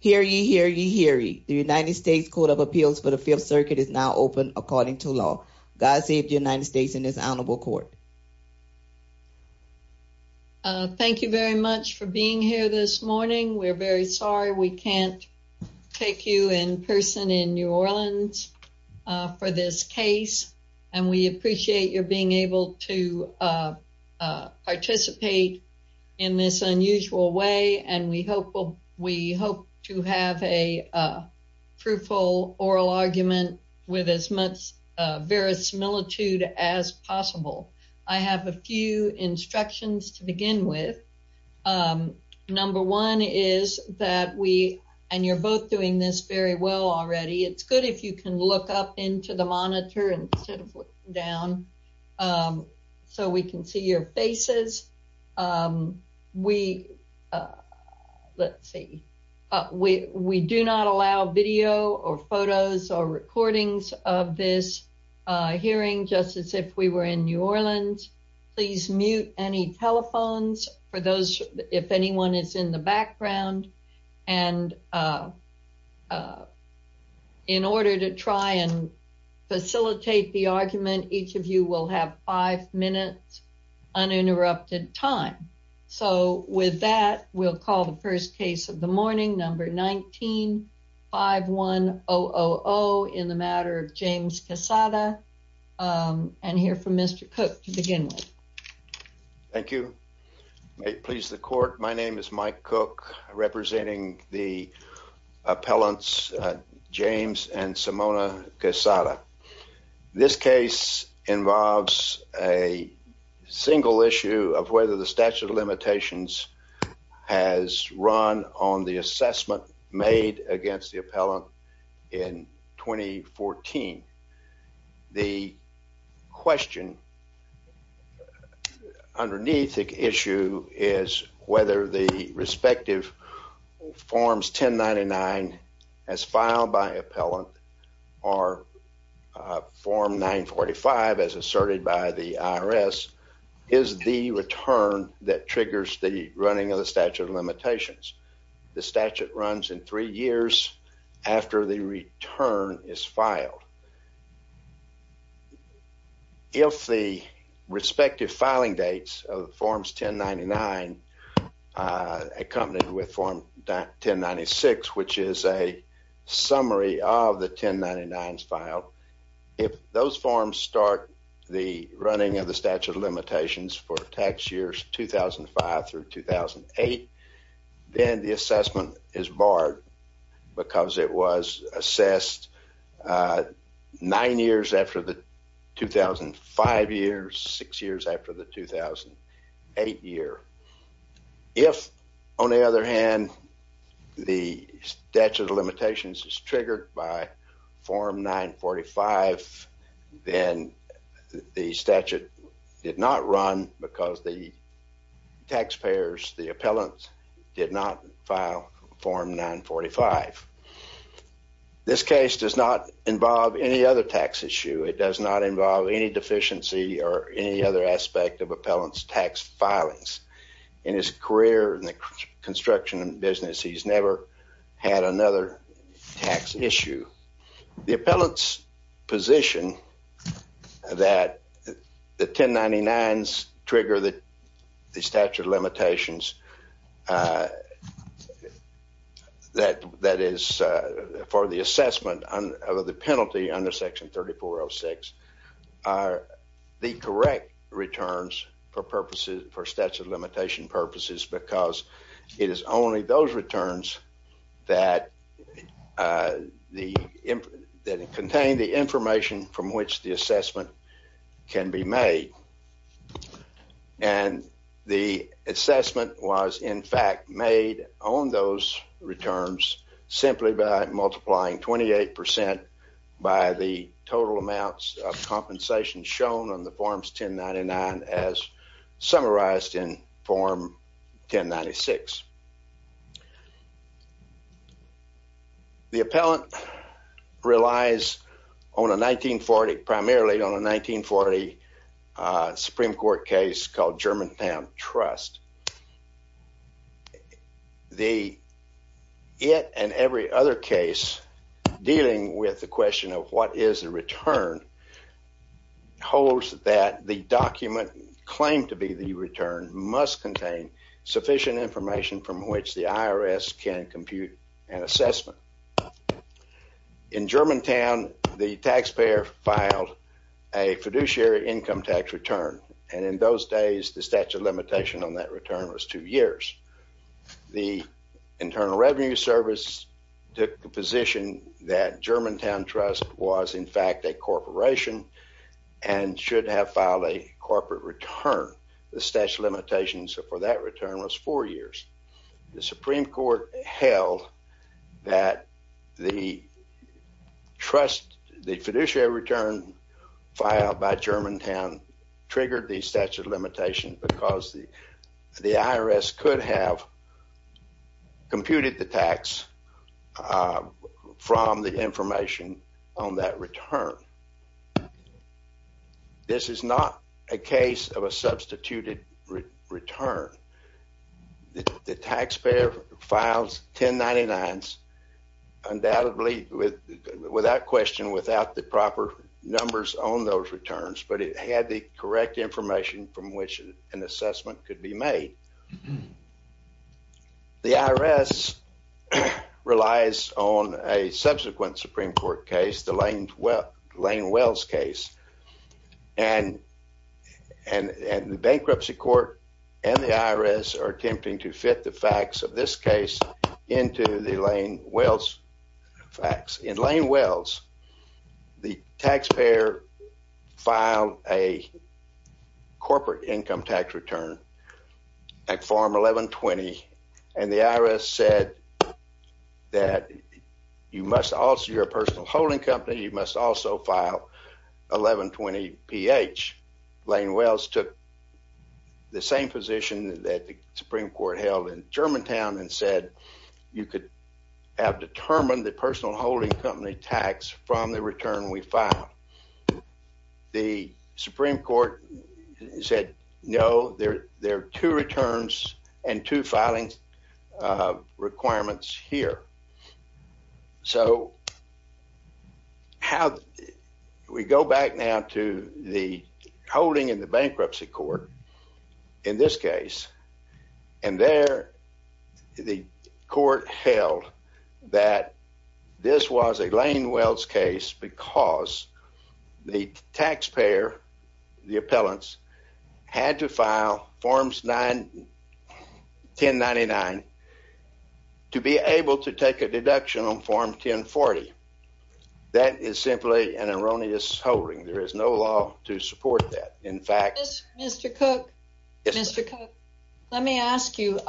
Hear ye, hear ye, hear ye. The United States Court of Appeals for the Fifth Circuit is now open according to law. God save the United States in this honorable court. Thank you very much for being here this morning. We're very sorry we can't take you in person in New Orleans for this case and we appreciate your being able to participate in this unusual way and we hope to have a fruitful oral argument with as much verisimilitude as possible. I have a few instructions to begin with. Number one is that we, and you're both doing this very well already, it's good if you can look up into the monitor instead of looking down so we can see your faces. We do not allow video or photos or recordings of this hearing just as if we were in New Orleans. Please mute any telephones for those if anyone is in the background and in order to try and facilitate the argument each of you will have five minutes uninterrupted time. So with that we'll call the first case of the morning number 19-51-000 in the matter of James Quezada and hear from Mr. Cook to begin with. Thank you. May it please the court my name is Mike Cook representing the appellants James and Simona Quezada. This case involves a single issue of whether the statute of limitations has run on the assessment made against the appellant in 2014. The question underneath the issue is whether the respective forms 1099 as filed by appellant or form 945 as asserted by the IRS is the return that triggers the running of the statute of limitations. If the respective filing dates of forms 1099 accompanied with form 1096 which is a summary of the 1099s filed if those forms start the running of the statute of limitations for tax years 2005 through 2008 then the assessment is barred because it was assessed nine years after the 2005 years six years after the 2008 year. If on the other hand the statute of limitations is triggered by form 945 then the statute did not run because the taxpayers the appellant did not file form 945. This case does not involve any other tax issue it does not involve any deficiency or any other aspect of appellant's tax filings. In his career in the construction business he's never had another tax issue. The appellant's position that the 1099s trigger the statute of limitations that is for the assessment of the penalty under section 3406 are the correct returns for purposes for statute of limitation purposes because it is only those returns that contain the information from which the assessment can be made. And the assessment was in fact made on those returns simply by multiplying 28% by the total amounts of compensation shown on the forms 1099 as summarized in form 1096. The appellant relies on a 1940 primarily on a 1940 Supreme Court case called Germantown Trust. The it and every other case dealing with the question of what is the return holds that the document claimed to be the return must contain sufficient information from which the IRS can compute an assessment. In Germantown the taxpayer filed a fiduciary income tax return and in those days the statute of limitation on that return was two years. The Internal Revenue Service took the position that Germantown Trust was in fact a corporation and should have filed a corporate return. The statute of limitations for that return was four limitations because the IRS could have computed the tax from the information on that return. This is not a case of a substituted return. The taxpayer files 1099s undoubtedly without the proper numbers on those returns but it had the correct information from which an assessment could be made. The IRS relies on a subsequent Supreme Court case, the Lane Wells case, and the bankruptcy court and the IRS are attempting to fit the facts of this case into the Lane Wells facts. In Lane Wells the taxpayer filed a corporate income tax return at form 1120 and the IRS said that you must also, you're a personal holding company, you must also 1120 PH. Lane Wells took the same position that the Supreme Court held in Germantown and said you could have determined the personal holding company tax from the return we filed. The Supreme Court said no, there are two returns and two filing requirements here. So we go back now to the holding in the bankruptcy court in this case and there the court held that this was a Lane Wells case because the taxpayer, the appellants, had to file forms 1099 to be able to take a deduction on form 1040. That is simply an erroneous holding. There is no law to support that. In fact, Mr. Cook, let me ask you,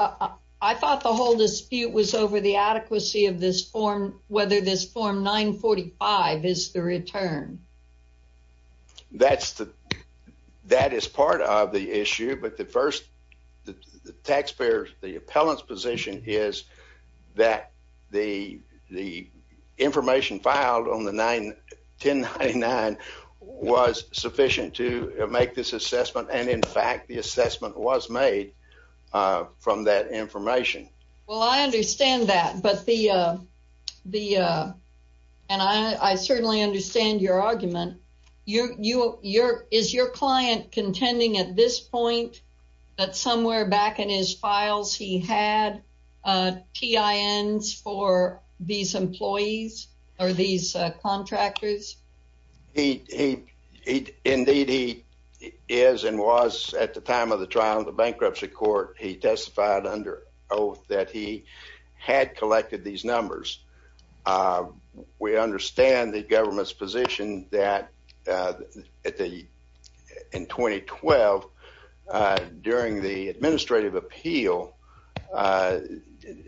I thought the whole dispute was over the adequacy of this form whether this form 945 is the return. That is part of the issue but the the taxpayer, the appellant's position is that the information filed on the 1099 was sufficient to make this assessment and in fact the assessment was made from that information. Well I understand that but the, and I certainly understand your argument, your, your, your, is your client contending at this point that somewhere back in his files he had TINs for these employees or these contractors? He, he, indeed he is and was at the time of the trial in the bankruptcy court, he testified under oath that he had collected these numbers. Uh, we understand the government's position that, uh, at the, in 2012, uh, during the administrative appeal, uh,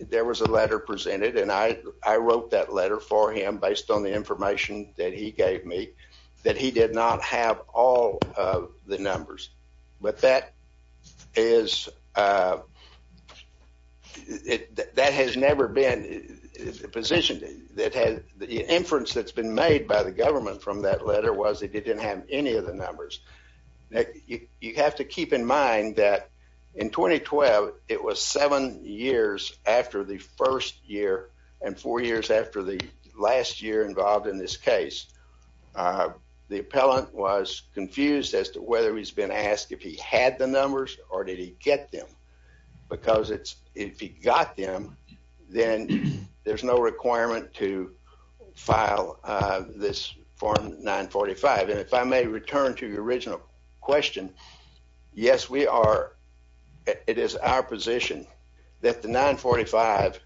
there was a letter presented and I, I wrote that letter for him based on the information that he gave me that he did not have all of the numbers but that is, uh, it, that has never been positioned, that has, the inference that's been made by the government from that letter was it didn't have any of the numbers. You have to keep in mind that in 2012 it was seven years after the first year and four years after the last year involved in this case, uh, the appellant was confused as to whether he's been asked if he had the numbers or did he get them because it's, if he got them, then there's no requirement to file, uh, this form 945. And if I may return to your original question, yes, we are, it is our position that the 945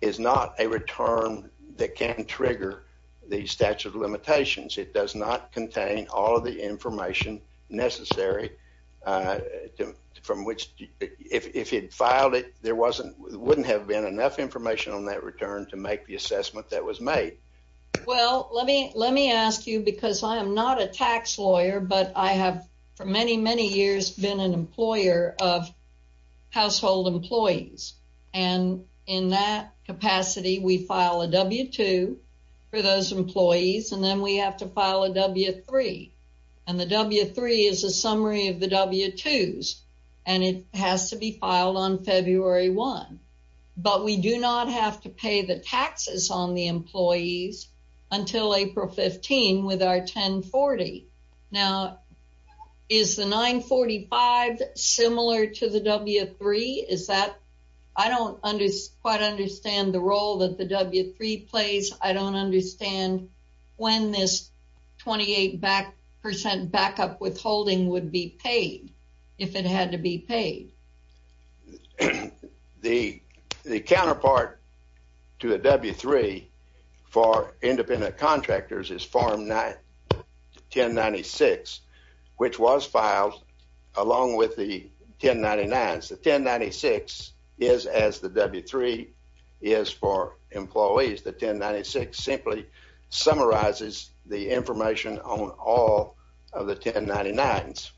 is not a return that can trigger the statute of limitations. It does not contain all of the information necessary, uh, from which, if he'd filed it, there wasn't, wouldn't have been enough information on that return to make the assessment that was made. Well, let me, let me ask you because I am not a tax lawyer but I have for many, many years been an employer of household employees and in that is a summary of the W-2s and it has to be filed on February 1, but we do not have to pay the taxes on the employees until April 15 with our 1040. Now is the 945 similar to the W-3? Is that, I don't quite understand the role that the W-3 plays. I don't understand when this 28 back percent backup withholding would be paid if it had to be paid. The counterpart to the W-3 for independent contractors is form 1096, which was filed along with the 1099s. The 1096 is as the W-3 is for the 1099s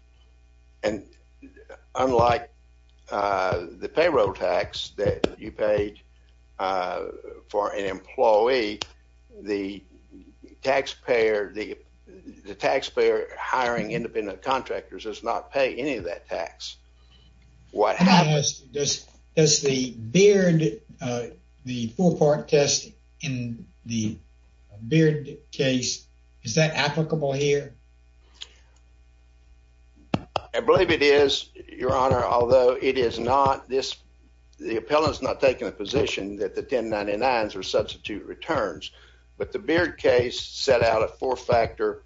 and unlike the payroll tax that you paid for an employee, the taxpayer, the taxpayer hiring independent contractors does not pay any of that tax. What happens? Does the BEARD, the four-part test in the BEARD case, is that applicable here? I believe it is, your honor, although it is not. This, the appellant's not taking the position that the 1099s are substitute returns, but the BEARD case set out a four-factor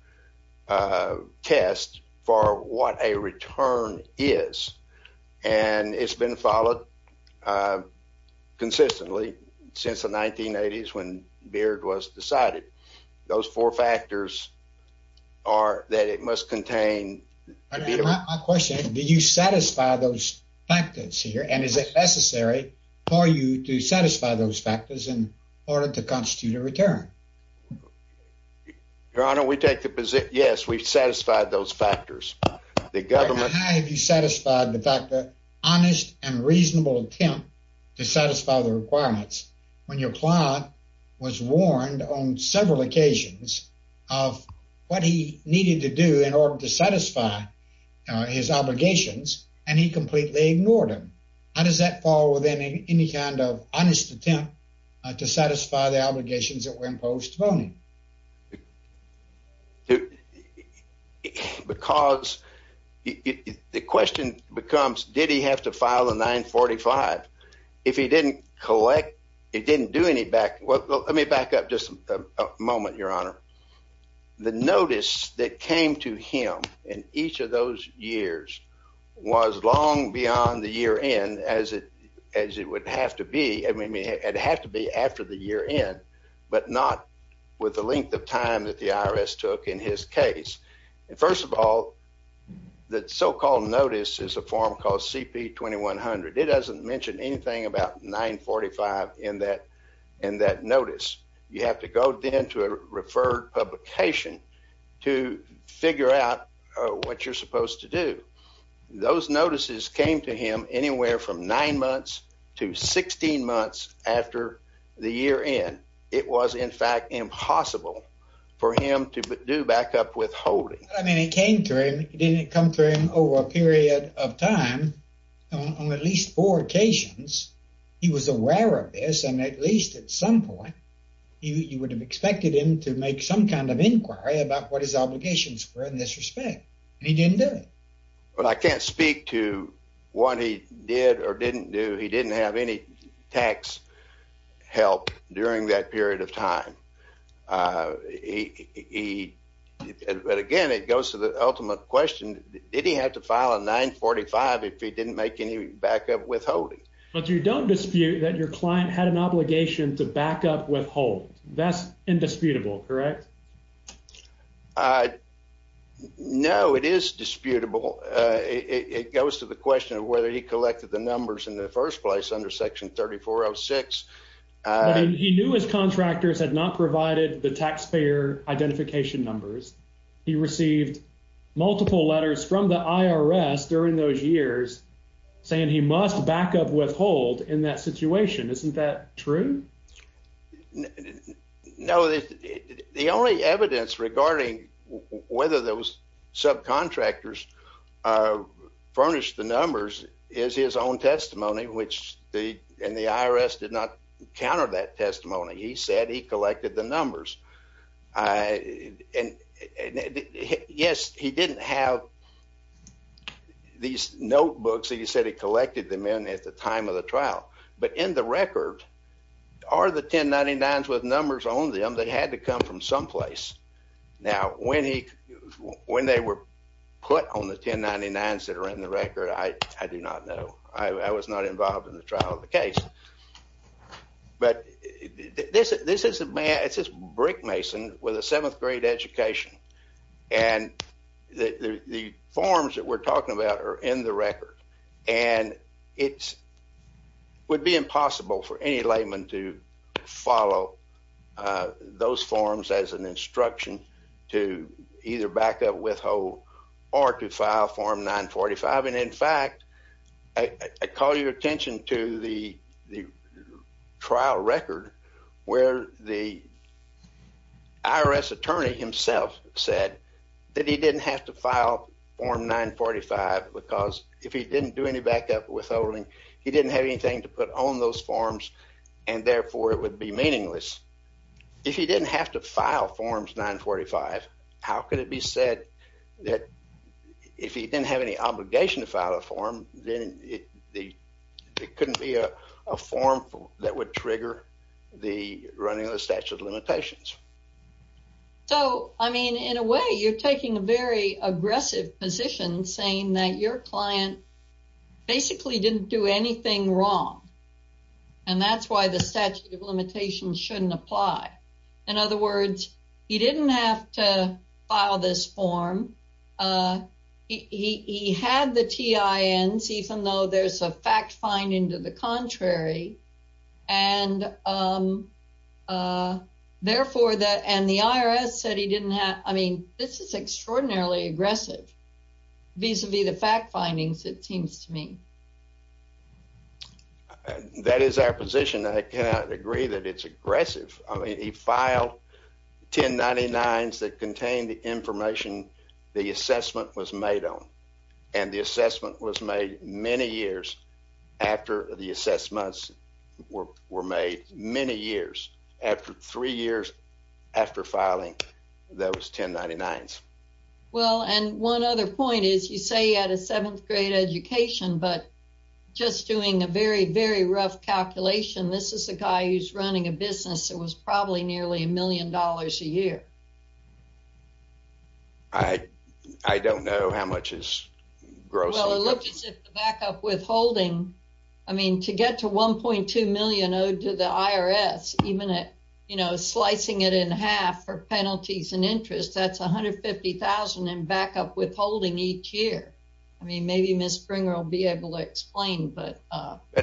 test for what a return is and it's been followed consistently since the 1980s when BEARD was decided. Those four factors are that it must contain. My question, do you satisfy those factors here and is it necessary for you to satisfy those factors in order to constitute a return? Your honor, we take the position, yes, we've satisfied those factors. The government... How have you satisfied the fact that honest and reasonable attempt to satisfy the requirements when your client was warned on several occasions of what he needed to do in order to satisfy his obligations and he completely ignored them? How does that fall within any kind of honest attempt to satisfy the obligations that were imposed upon him? Because the question becomes, did he have to file a 945? If he didn't collect, he didn't do any back... Well, let me back up just a moment, your honor. The notice that came to him in each of those years was long beyond the year end as it would have to be after the year end, but not with the length of time that the IRS took in his case. First of all, the so-called notice is a form called CP 2100. It doesn't mention anything about 945 in that notice. You have to go then to a referred publication to figure out what you're supposed to do. Those notices came to him anywhere from nine months to 16 months after the year end. It was in fact impossible for him to do back up withholding. I mean, it came to him. It didn't come to him over a period of time. On at least four occasions, he was aware of this, and at least at some point, you would have expected him to make some kind of inquiry about what his obligations were in this respect, and he didn't do it. Well, I can't speak to what he did or didn't do. He didn't have any tax help during that period of time. But again, it goes to the ultimate question, did he have to if he didn't make any back up withholding. But you don't dispute that your client had an obligation to back up withhold. That's indisputable, correct? No, it is disputable. It goes to the question of whether he collected the numbers in the first place under Section 3406. He knew his contractors had not provided the taxpayer identification numbers. He received multiple letters from the IRS during those years saying he must back up withhold in that situation. Isn't that true? No, the only evidence regarding whether those subcontractors furnished the numbers is his own testimony, which the IRS did not counter that testimony. He said he collected the numbers. Yes, he didn't have these notebooks that he said he collected them in at the time of the trial. But in the record, are the 1099s with numbers on them? They had to come from someplace. Now, when they were put on the 1099s that are in the record, I do not know. I was not involved in the trial of the case. But this is brick mason with a seventh grade education. And the forms that we're talking about are in the record. And it would be impossible for any layman to follow those forms as an instruction to either back up withhold or to file Form 945. In fact, I call your attention to the trial record where the IRS attorney himself said that he didn't have to file Form 945 because if he didn't do any backup withholding, he didn't have anything to put on those forms, and therefore it would be meaningless. If he didn't have to file a form, then it couldn't be a form that would trigger the running of the statute of limitations. So, I mean, in a way, you're taking a very aggressive position saying that your client basically didn't do anything wrong. And that's why the statute of limitations shouldn't apply. In other words, he didn't have to file this form. He had the TINs, even though there's a fact finding to the contrary. And therefore, and the IRS said he didn't have, I mean, this is extraordinarily aggressive vis-a-vis the fact findings, it seems to me. And that is our position. I cannot agree that it's aggressive. I mean, he filed 1099s that contained the information the assessment was made on. And the assessment was made many years after the assessments were made, many years, after three years after filing those 1099s. Well, and one other point is, you say he had a seventh grade education, but just doing a very, very rough calculation, this is a guy who's running a business that was probably nearly a million dollars a year. I don't know how much is gross. Well, it looked as if the backup withholding, I mean, to get to 1.2 million owed to the IRS, even slicing it in half for penalties and interest, that's 150,000 in backup withholding each year. I mean, maybe Ms. Springer will be able to explain, but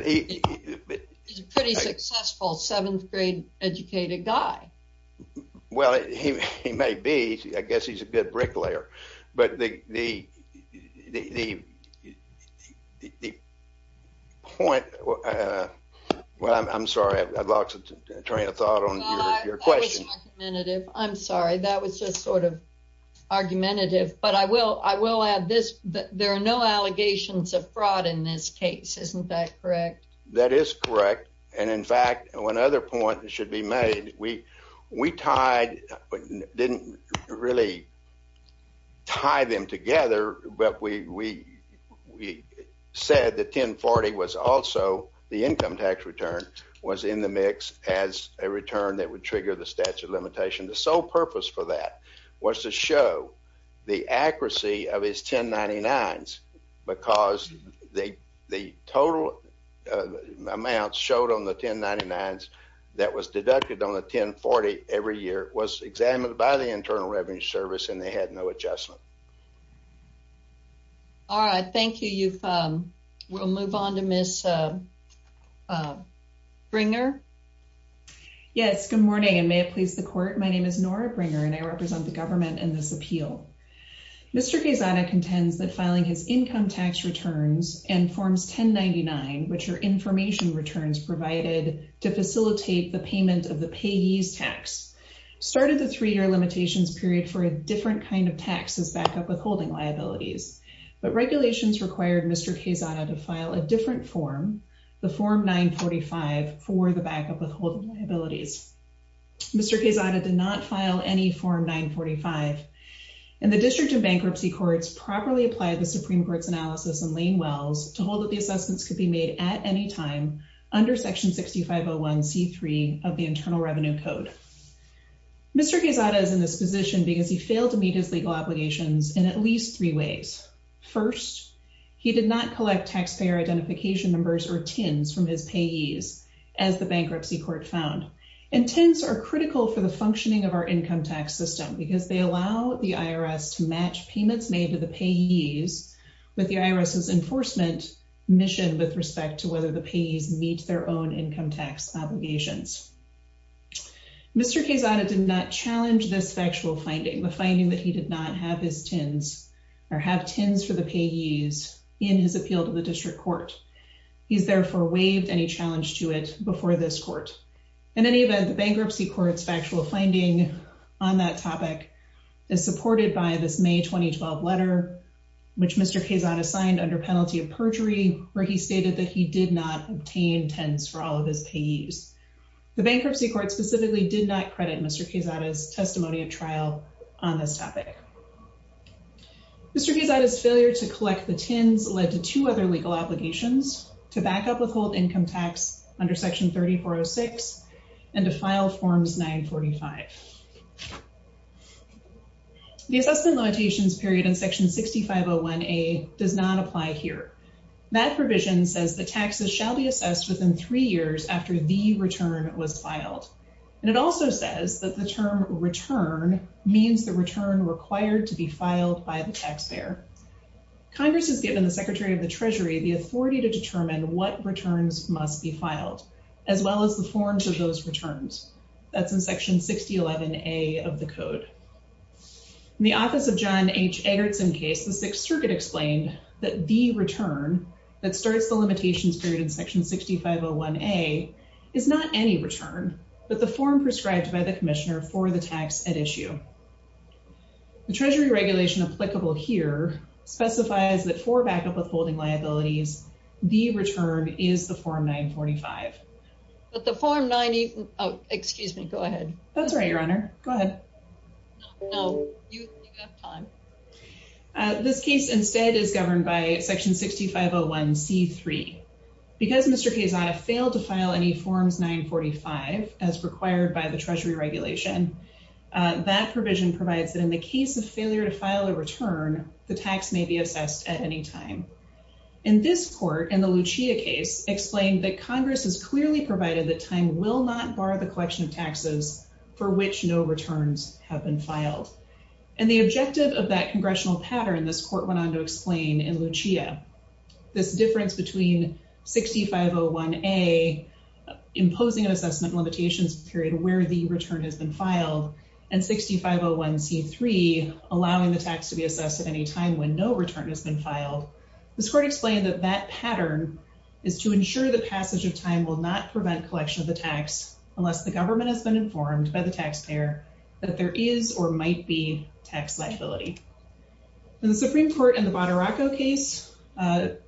he's a pretty successful seventh grade educated guy. Well, he may be. I guess he's a good bricklayer. But the point, well, I'm sorry. I'd like to train a thought on your question. That was argumentative. I'm sorry. That was just sort of argumentative. But I will add this, there are no allegations of fraud in this case. Isn't that correct? That is correct. And in fact, one other point that should be made, we tied, but didn't really tie them together, but we said the 1040 was also the income tax return was in the mix as a return that would trigger the statute of limitations. The sole purpose for that was to show the accuracy of his 1099s because the total amounts showed on the 1099s that was deducted on the 1040 every and they had no adjustment. All right. Thank you. We'll move on to Ms. Springer. Yes. Good morning and may it please the court. My name is Nora Springer and I represent the government in this appeal. Mr. Gazzana contends that filing his income tax returns and forms 1099, which are information returns provided to facilitate the payment of the payee's tax, started the three-year limitations period for a different kind of tax as backup withholding liabilities. But regulations required Mr. Gazzana to file a different form, the form 945, for the backup withholding liabilities. Mr. Gazzana did not file any form 945. And the district of bankruptcy courts properly applied the Supreme Court's analysis in Lane Wells to hold that the assessments could be made at any time under section 6501c3 of the Act. Mr. Gazzana is in this position because he failed to meet his legal obligations in at least three ways. First, he did not collect taxpayer identification numbers or TINs from his payees, as the bankruptcy court found. And TINs are critical for the functioning of our income tax system because they allow the IRS to match payments made to the payees with the IRS's enforcement mission with respect to whether the payees meet their own income tax obligations. Mr. Gazzana did not challenge this factual finding, the finding that he did not have his TINs or have TINs for the payees in his appeal to the district court. He's therefore waived any challenge to it before this court. In any event, the bankruptcy court's factual finding on that topic is supported by this May 2012 letter, which Mr. Gazzana signed under penalty of perjury, where he stated that he did not obtain TINs for all of his payees. The bankruptcy court specifically did not credit Mr. Gazzana's testimony of trial on this topic. Mr. Gazzana's failure to collect the TINs led to two other legal obligations, to back up withhold income tax under section 3406 and to file forms 945. The assessment limitations period in section 6501A does not apply here. That provision says that taxes shall be assessed within three years after the return was filed. And it also says that the term return means the return required to be filed by the taxpayer. Congress has given the Secretary of the Treasury the authority to determine what returns must be filed, as well as the forms of those returns. That's in section 6011A of the code. In the office of John H. Circuit explained that the return that starts the limitations period in section 6501A is not any return, but the form prescribed by the Commissioner for the tax at issue. The Treasury regulation applicable here specifies that for backup withholding liabilities, the return is the form 945. But the form 945, excuse me, go ahead. That's right, Your Honor, go ahead. No, you have time. This case instead is governed by section 6501C3. Because Mr. Kezaia failed to file any forms 945, as required by the Treasury regulation, that provision provides that in the case of failure to file a return, the tax may be assessed at any time. In this court, in the Lucia case, explained that Congress has clearly provided that TIN will not bar the collection of taxes for which no returns have been filed. And the objective of that congressional pattern, this court went on to explain in Lucia, this difference between 6501A imposing an assessment limitations period where the return has been filed, and 6501C3 allowing the tax to be assessed at any time when no return has been filed. This court explained that that pattern is to ensure the passage of time will not prevent collection of the tax unless the government has been informed by the taxpayer that there is or might be tax liability. And the Supreme Court in the Badaracco case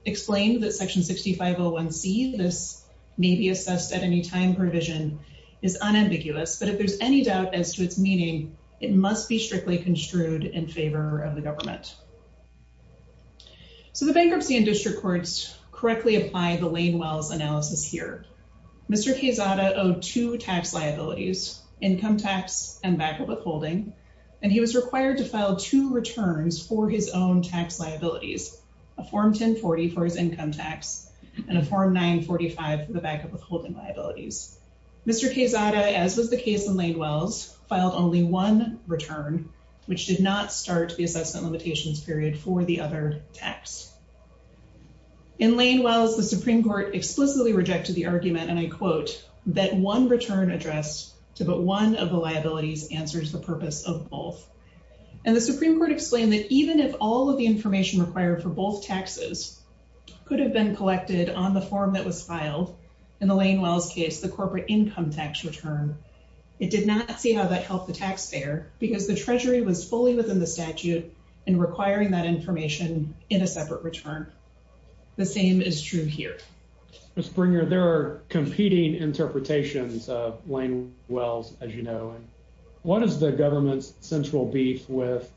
explained that section 6501C, this may be assessed at any time provision, is unambiguous. But if there's any doubt as to its meaning, it must be strictly construed in favor of the government. So the bankruptcy and district courts correctly apply the Lane-Wells analysis here. Mr. Quezada owed two tax liabilities, income tax and backup withholding, and he was required to file two returns for his own tax liabilities, a Form 1040 for his income tax and a Form 945 for the backup withholding liabilities. Mr. Quezada, as was the case in Lane-Wells, filed only one return, which did not start the assessment limitations period for the other tax. In Lane-Wells, the Supreme Court explicitly rejected the argument, and I quote, that one return addressed to but one of the liabilities answers the purpose of both. And the Supreme Court explained that even if all of the information required for both taxes could have been collected on the form that was filed, in the Lane-Wells case, the corporate income tax return, it did not see how that helped the was fully within the statute and requiring that information in a separate return. The same is true here. Mr. Springer, there are competing interpretations of Lane-Wells, as you know, and what is the government's central beef with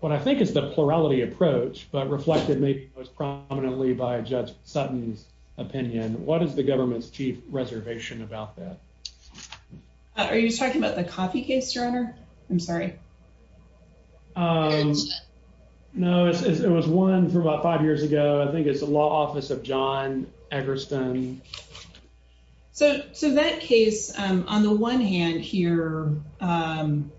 what I think is the plurality approach, but reflected maybe most prominently by Judge Sutton's opinion, what is the government's chief reservation about that? Are you talking about the Coffey case, your honor? I'm sorry. No, it was one for about five years ago. I think it's the law office of John Eggerston. So that case, on the one hand here,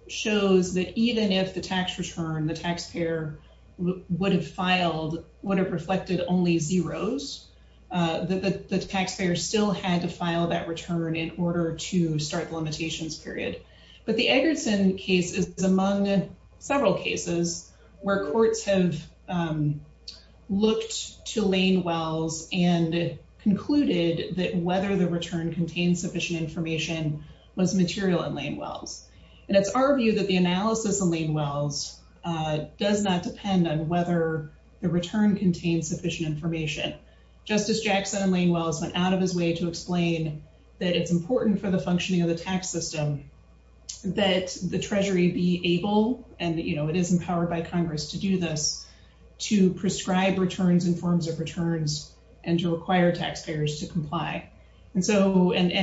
shows that even if the tax return, the taxpayer would have filed, would have reflected only zeros, the taxpayer still had to file that return in order to start the limitations period. But the Eggerston case is among several cases where courts have looked to Lane-Wells and concluded that whether the return contained sufficient information was material in Lane-Wells. And it's our view that the analysis of Lane-Wells does not depend on whether the return contains sufficient information. Justice Jackson and Lane-Wells went out of his way to explain that it's important for the functioning of the tax system that the treasury be able, and it is empowered by Congress to do this, to prescribe returns in forms of returns and to require taxpayers to comply. And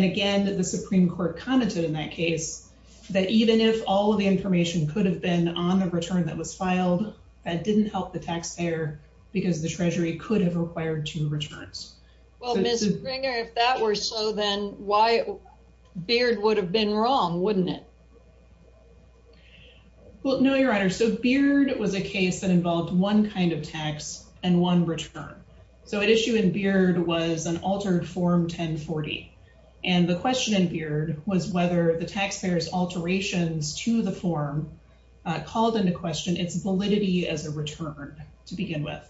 again, the Supreme Court commented in that case that even if all of the information could have been on a return that was filed, that didn't help the taxpayer because the treasury could have required two returns. Well, Ms. Bringer, if that were so, then why Beard would have been wrong, wouldn't it? Well, no, Your Honor. So Beard was a case that involved one kind of tax and one return. So at issue in Beard was an altered Form 1040. And the question in Beard was whether the taxpayer's form called into question its validity as a return to begin with.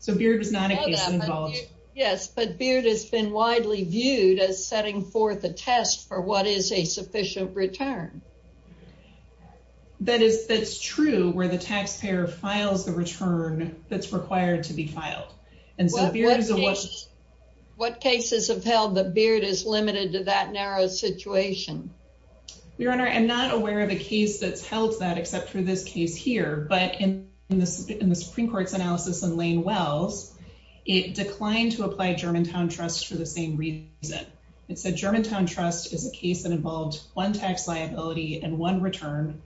So Beard was not a case involved. Yes, but Beard has been widely viewed as setting forth a test for what is a sufficient return. That's true where the taxpayer files the return that's required to be filed. And so what cases have held that Beard is limited to that narrow situation? Your Honor, I'm not aware of a case that's held that except for this case here. But in the Supreme Court's analysis in Lane Wells, it declined to apply Germantown Trust for the same reason. It said Germantown Trust is a case that involved one tax liability and one return.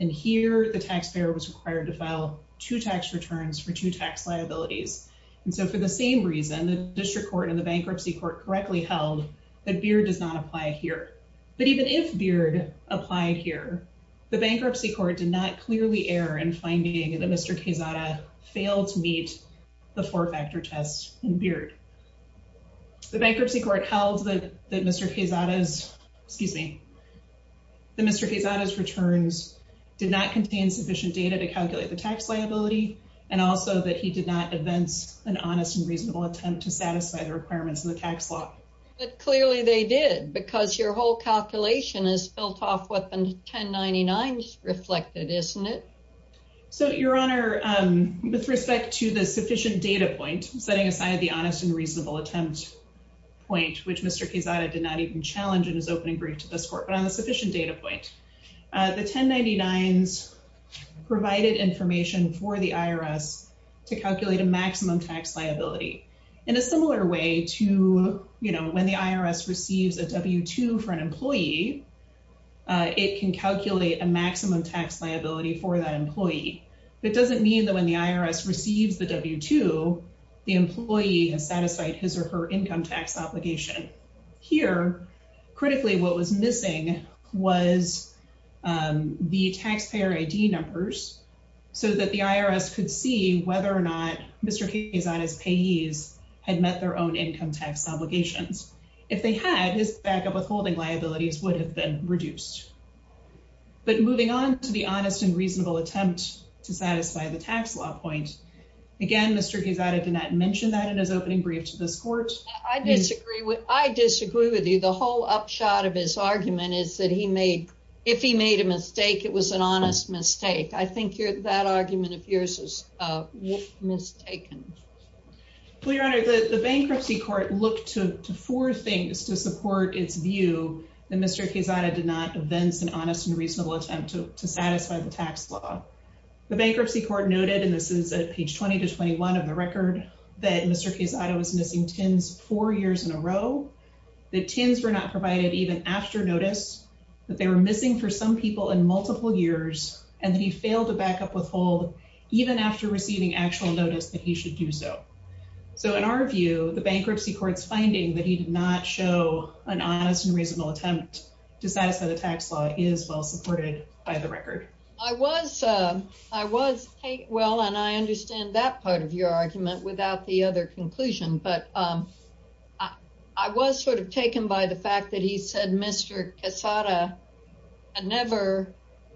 And here the taxpayer was required to file two tax returns for two tax liabilities. And so for the same reason, the district court and the bankruptcy court correctly held that Beard does not apply here. But even if Beard applied here, the bankruptcy court did not clearly err in finding that Mr. Quezada failed to meet the four-factor test in Beard. The bankruptcy court held that Mr. Quezada's, excuse me, that Mr. Quezada's returns did not contain sufficient data to calculate the tax liability, and also that he did not advance an honest and reasonable attempt to satisfy the tax liability. So your whole calculation is built off what the 1099s reflected, isn't it? So, Your Honor, with respect to the sufficient data point, setting aside the honest and reasonable attempt point, which Mr. Quezada did not even challenge in his opening brief to this court, but on the sufficient data point, the 1099s provided information for the IRS to calculate a maximum tax liability. In a similar way to, you know, when the IRS receives a W-2 for an employee, it can calculate a maximum tax liability for that employee. It doesn't mean that when the IRS receives the W-2, the employee has satisfied his or her income tax obligation. Here, critically, what was missing was the taxpayer ID numbers so that the IRS could see whether or not Mr. Quezada's payees had met their own income tax obligations. If they had, his backup withholding liabilities would have been reduced. But moving on to the honest and reasonable attempt to satisfy the tax law point, again, Mr. Quezada did not mention that in his opening brief to this court. I disagree with you. The whole upshot of his argument is that if he made a mistake, it was an honest mistake. I think that argument of yours is mistaken. Well, Your Honor, the bankruptcy court looked to four things to support its view that Mr. Quezada did not evince an honest and reasonable attempt to satisfy the tax law. The bankruptcy court noted, and this is at page 20 to 21 of the record, that Mr. Quezada was missing tins four years in a row, that tins were not provided even after notice, that they were missing for some people in multiple years, and that he failed to backup withhold even after receiving actual notice that he should do so. So in our view, the bankruptcy court's finding that he did not show an honest and reasonable attempt to satisfy the tax law is well your argument without the other conclusion. But I was sort of taken by the fact that he said Mr. Quezada had never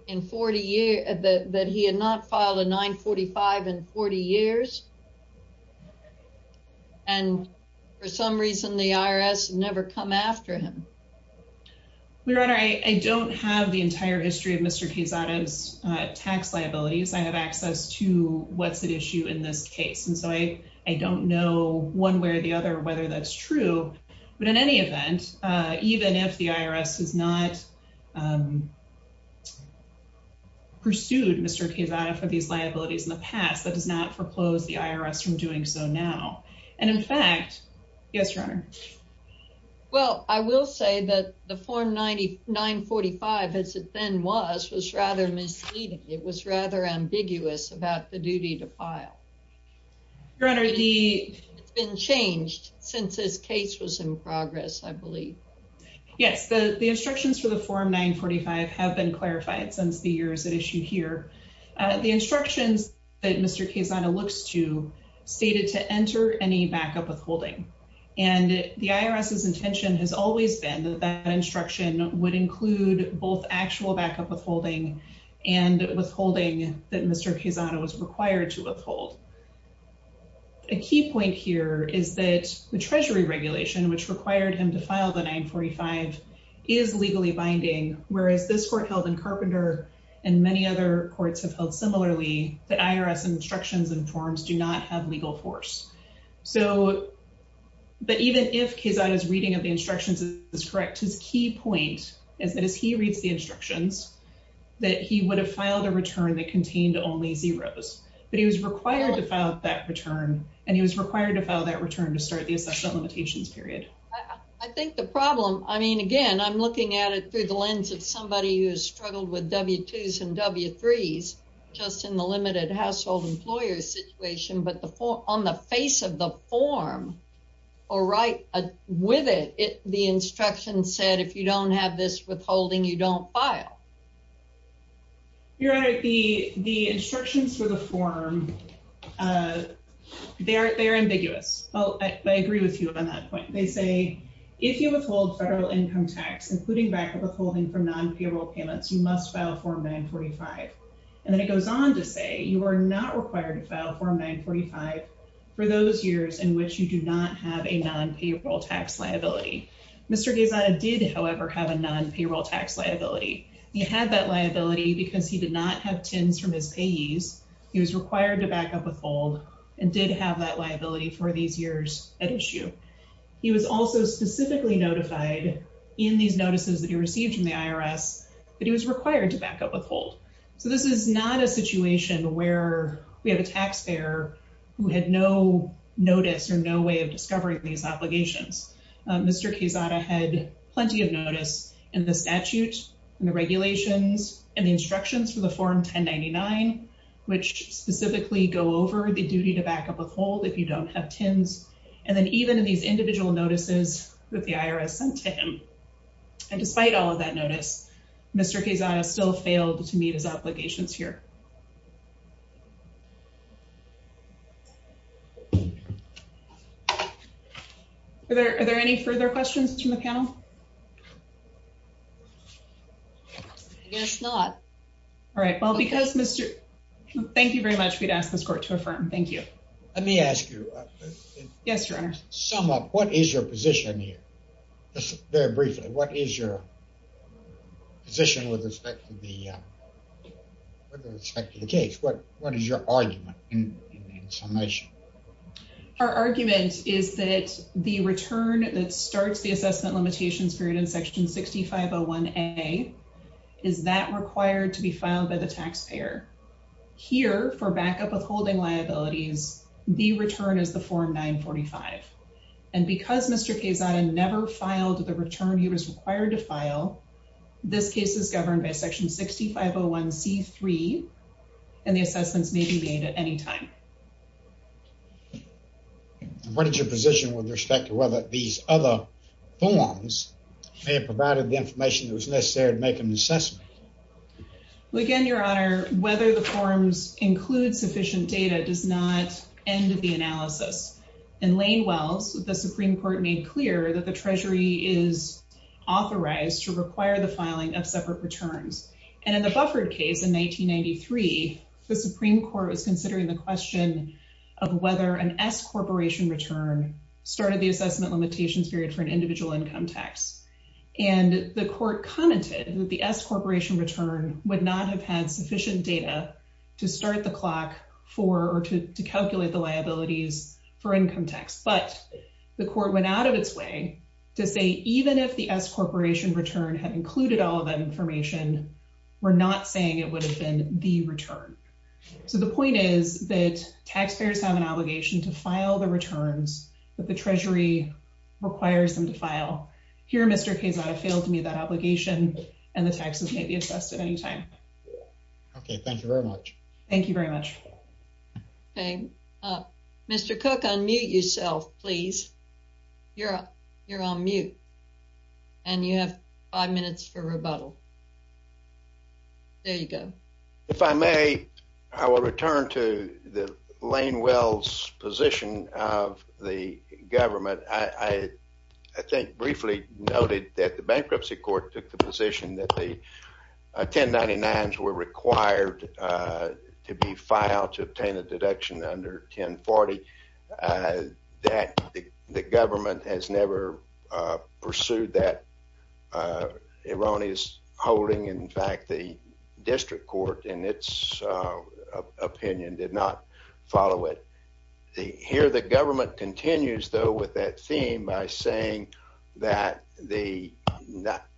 in 40 years, that he had not filed a 945 in 40 years. And for some reason, the IRS never come after him. Your Honor, I don't have the entire history of Mr. Quezada's tax liabilities. I have access to what's at issue in this case. And so I don't know one way or the other whether that's true. But in any event, even if the IRS has not pursued Mr. Quezada for these liabilities in the past, that does not foreclose the IRS from doing so now. And in fact, yes, Your Honor. Well, I will say that the form 945, as it then was, was rather misleading. It was rather ambiguous about the duty to file. Your Honor, it's been changed since his case was in progress, I believe. Yes, the instructions for the form 945 have been clarified since the years at issue here. The instructions that Mr. Quezada looks to stated to enter any backup withholding. And the IRS's intention has always been that that instruction would include both actual backup withholding and withholding that Mr. Quezada was required to withhold. A key point here is that the Treasury regulation, which required him to file the 945, is legally binding, whereas this court held in Carpenter and many other courts have held similarly, that IRS instructions and forms do not have legal force. So, but even if Quezada's reading of the instructions is correct, his key point is that as he reads the instructions, that he would have filed a return that contained only zeros, but he was required to file that return and he was required to file that return to start the assessment limitations period. I think the problem, I mean, again, I'm looking at it through the lens of somebody who has struggled with W-2s and W-3s just in the limited household employer situation, but on the face of the form or right with it, the instruction said, if you don't have this withholding, you don't file. Your Honor, the instructions for the form, they're ambiguous. Oh, I agree with you on that point. They say, if you withhold federal income tax, including backup withholding from non-payroll payments, you must file form 945. And then it goes on to say, you are not required to file form 945 for those years in which you do not have a non-payroll tax liability. Mr. Quezada did, however, have a non-payroll tax liability. He had that liability because he did not have TINs from his payees. He was required to backup withhold and did have that liability for these years at issue. He was also specifically notified in these notices that he received from the IRS that he was required to backup withhold. So this is not a situation where we have a taxpayer who had no notice or no way of discovering these obligations. Mr. Quezada had plenty of notice in the statute and the regulations and the instructions for the form 1099, which specifically go over the duty to backup withhold if you don't have TINs. And then even in these individual notices that the IRS sent to him. And despite all of that notice, Mr. Quezada still failed to meet his obligations here. Are there any further questions from the panel? I guess not. All right. Well, because Mr. Thank you very much. We'd ask this court to affirm. Thank you. Let me ask you. Yes, Your Honor. Sum up. What is your position here? Just very briefly. What is your position with respect to the case? What is your argument in summation? Our argument is that the return that starts the assessment limitations period in section 6501A is that required to be filed by the taxpayer. Here for backup withholding liabilities, the return is the form 945. And because Mr. Quezada never filed the return he was required to file, this case is governed by section 6501C3 and the assessments may be made at any time. What is your position with respect to whether these other forms may have provided the information that was necessary to make an assessment? Well, again, Your Honor, whether the forms include sufficient data does not end the analysis. In Lane Wells, the Supreme Court made clear that the Treasury is authorized to require the filing of separate returns. And in the Bufford case in 1993, the Supreme Court was considering the question of whether an S-corporation return started the assessment limitations period for an individual income tax. And the court commented that the S-corporation return would not have had sufficient data to start the clock for or to calculate the liabilities for income tax. But the court went out of its way to say even if the S-corporation return had included all of that information, we're not saying it would have been the return. So the point is that taxpayers have an obligation to file the returns that the Treasury requires them to file. Here Mr. Quezada failed to meet that obligation and the taxes may be assessed at any time. Okay, thank you very much. Thank you very much. Okay, Mr. Cook, unmute yourself, please. You're on mute and you have five minutes for rebuttal. There you go. If I may, I will return to the Lane Wells position of the government. I briefly noted that the bankruptcy court took the position that the 1099s were required to be filed to obtain a deduction under 1040. The government has never pursued that erroneous holding. In fact, the district court in its opinion did not follow it. Here the government continues though with that theme by saying that the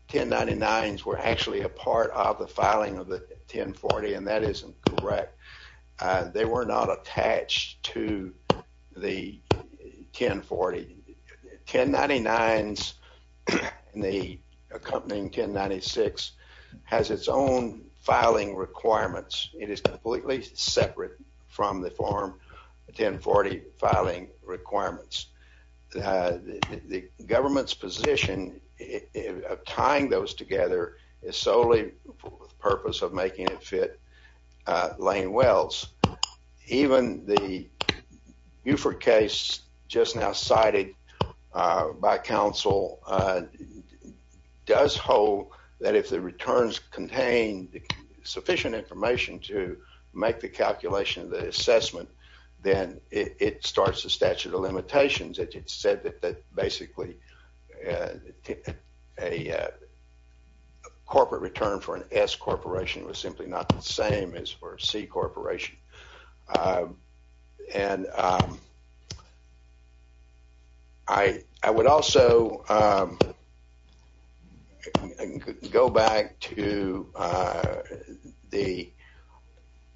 1099s were actually a part of the filing of the 1040 and that isn't correct. They were not attached to the 1040. 1099s and the accompanying 1096 has its own filing requirements. It is completely separate from the form 1040 filing requirements. The government's position of tying those together is solely for the purpose of making it fit Lane Wells. Even the Buford case just now cited by counsel does hold that if the returns contain sufficient information to make the calculation of the assessment, then it starts the statute of limitations. It said that basically a corporate return for an S corporation was simply not the same as for a C corporation.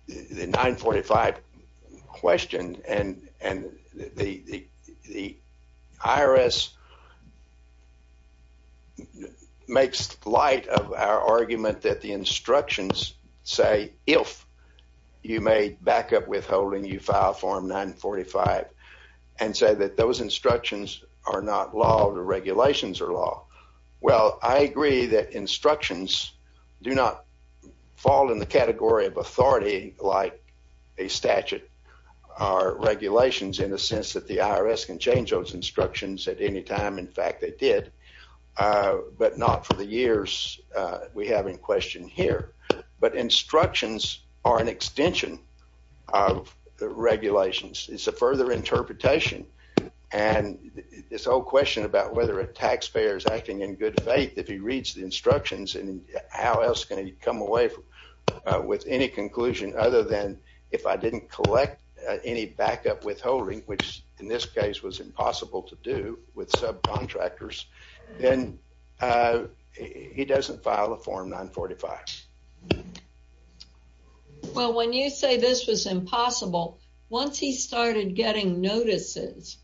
The 945 question and the IRS makes light of our argument that the instructions say if you made backup withholding, you file form 945 and say that those instructions are not law, the regulations are law. I agree that instructions do not fall in the category of authority like a statute or regulations in the sense that the IRS can change those instructions at any time. In fact, they did, but not for the years we have in question here. But instructions are an extension of regulations. It's a further interpretation and this whole question about whether a taxpayer is acting in good faith, if he reads the instructions, how else can he come away with any conclusion other than if I didn't collect any backup withholding, which in this case was impossible to do with subcontractors, then he doesn't file a form 945. Well, when you say this was impossible, once he started getting notices,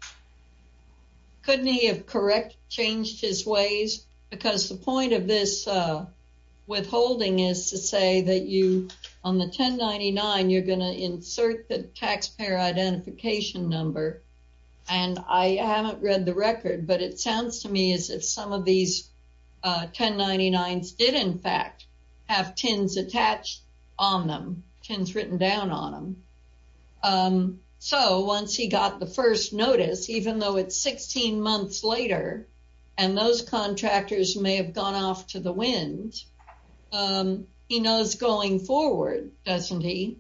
couldn't he have correct changed his ways? Because the point of this withholding is to say that you on the 1099, you're going to insert the taxpayer identification number. And I haven't read the record, but it sounds to me as if some of these 1099s did in fact have TINs attached on them, TINs written down on them. So once he got the first notice, even though it's 16 months later, and those contractors may have gone off to the wind, he knows going forward, doesn't he,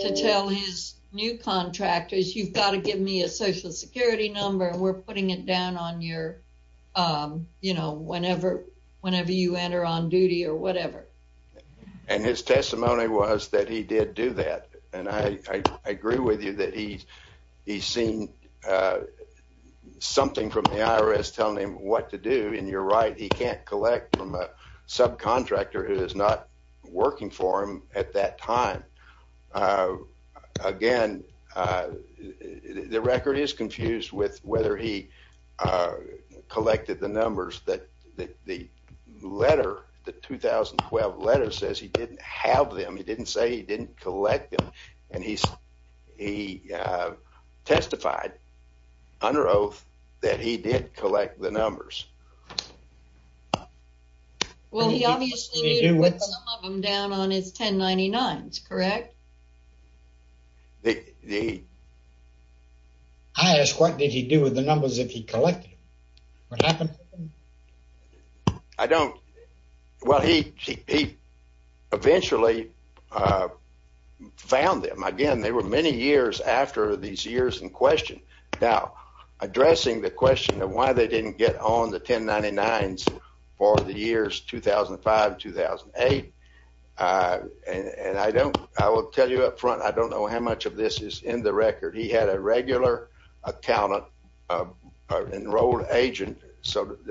to tell his new contractors, you've got to give me a social security number, we're putting it down on your, you know, whenever you enter on duty or whatever. And his testimony was that he did do that. And I agree with you that he's seen something from the IRS telling him what to do, and you're right, he can't collect from a subcontractor who is not working for him at that time. Again, the record is confused with whether he says he didn't have them, he didn't say he didn't collect them, and he testified under oath that he did collect the numbers. Well, he obviously put some of them down on his 1099s, correct? I ask what did he do with the numbers if he collected them? What happened? I don't, well, he eventually found them. Again, they were many years after these years in question. Now, addressing the question of why they didn't get on the 1099s for the years 2005-2008, and I don't, I will tell you up front, I don't know how much of this is in the record. He had a regular accountant, an enrolled agent, former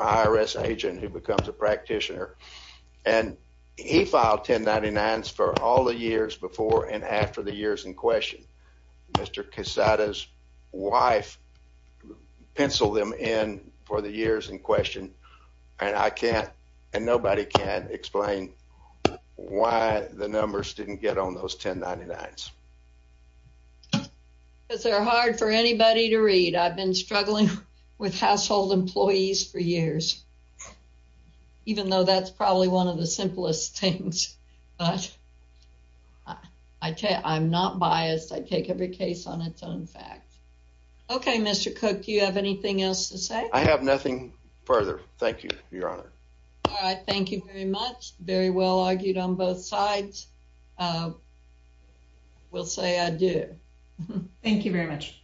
IRS agent who becomes a practitioner, and he filed 1099s for all the years before and after the years in question. Mr. Quesada's wife penciled them in for the years in question, and I can't, and nobody can, explain why the numbers didn't get on those 1099s. Because they're hard for anybody to read. I've been struggling with household employees for years, even though that's probably one of the simplest things, but I tell you, I'm not biased. I take every case on its own fact. Okay, Mr. Cook, do you have anything else to say? I have nothing further. Thank you, Your Honor. All right, thank you very much. Very well argued on both sides. Will say I do. Thank you very much.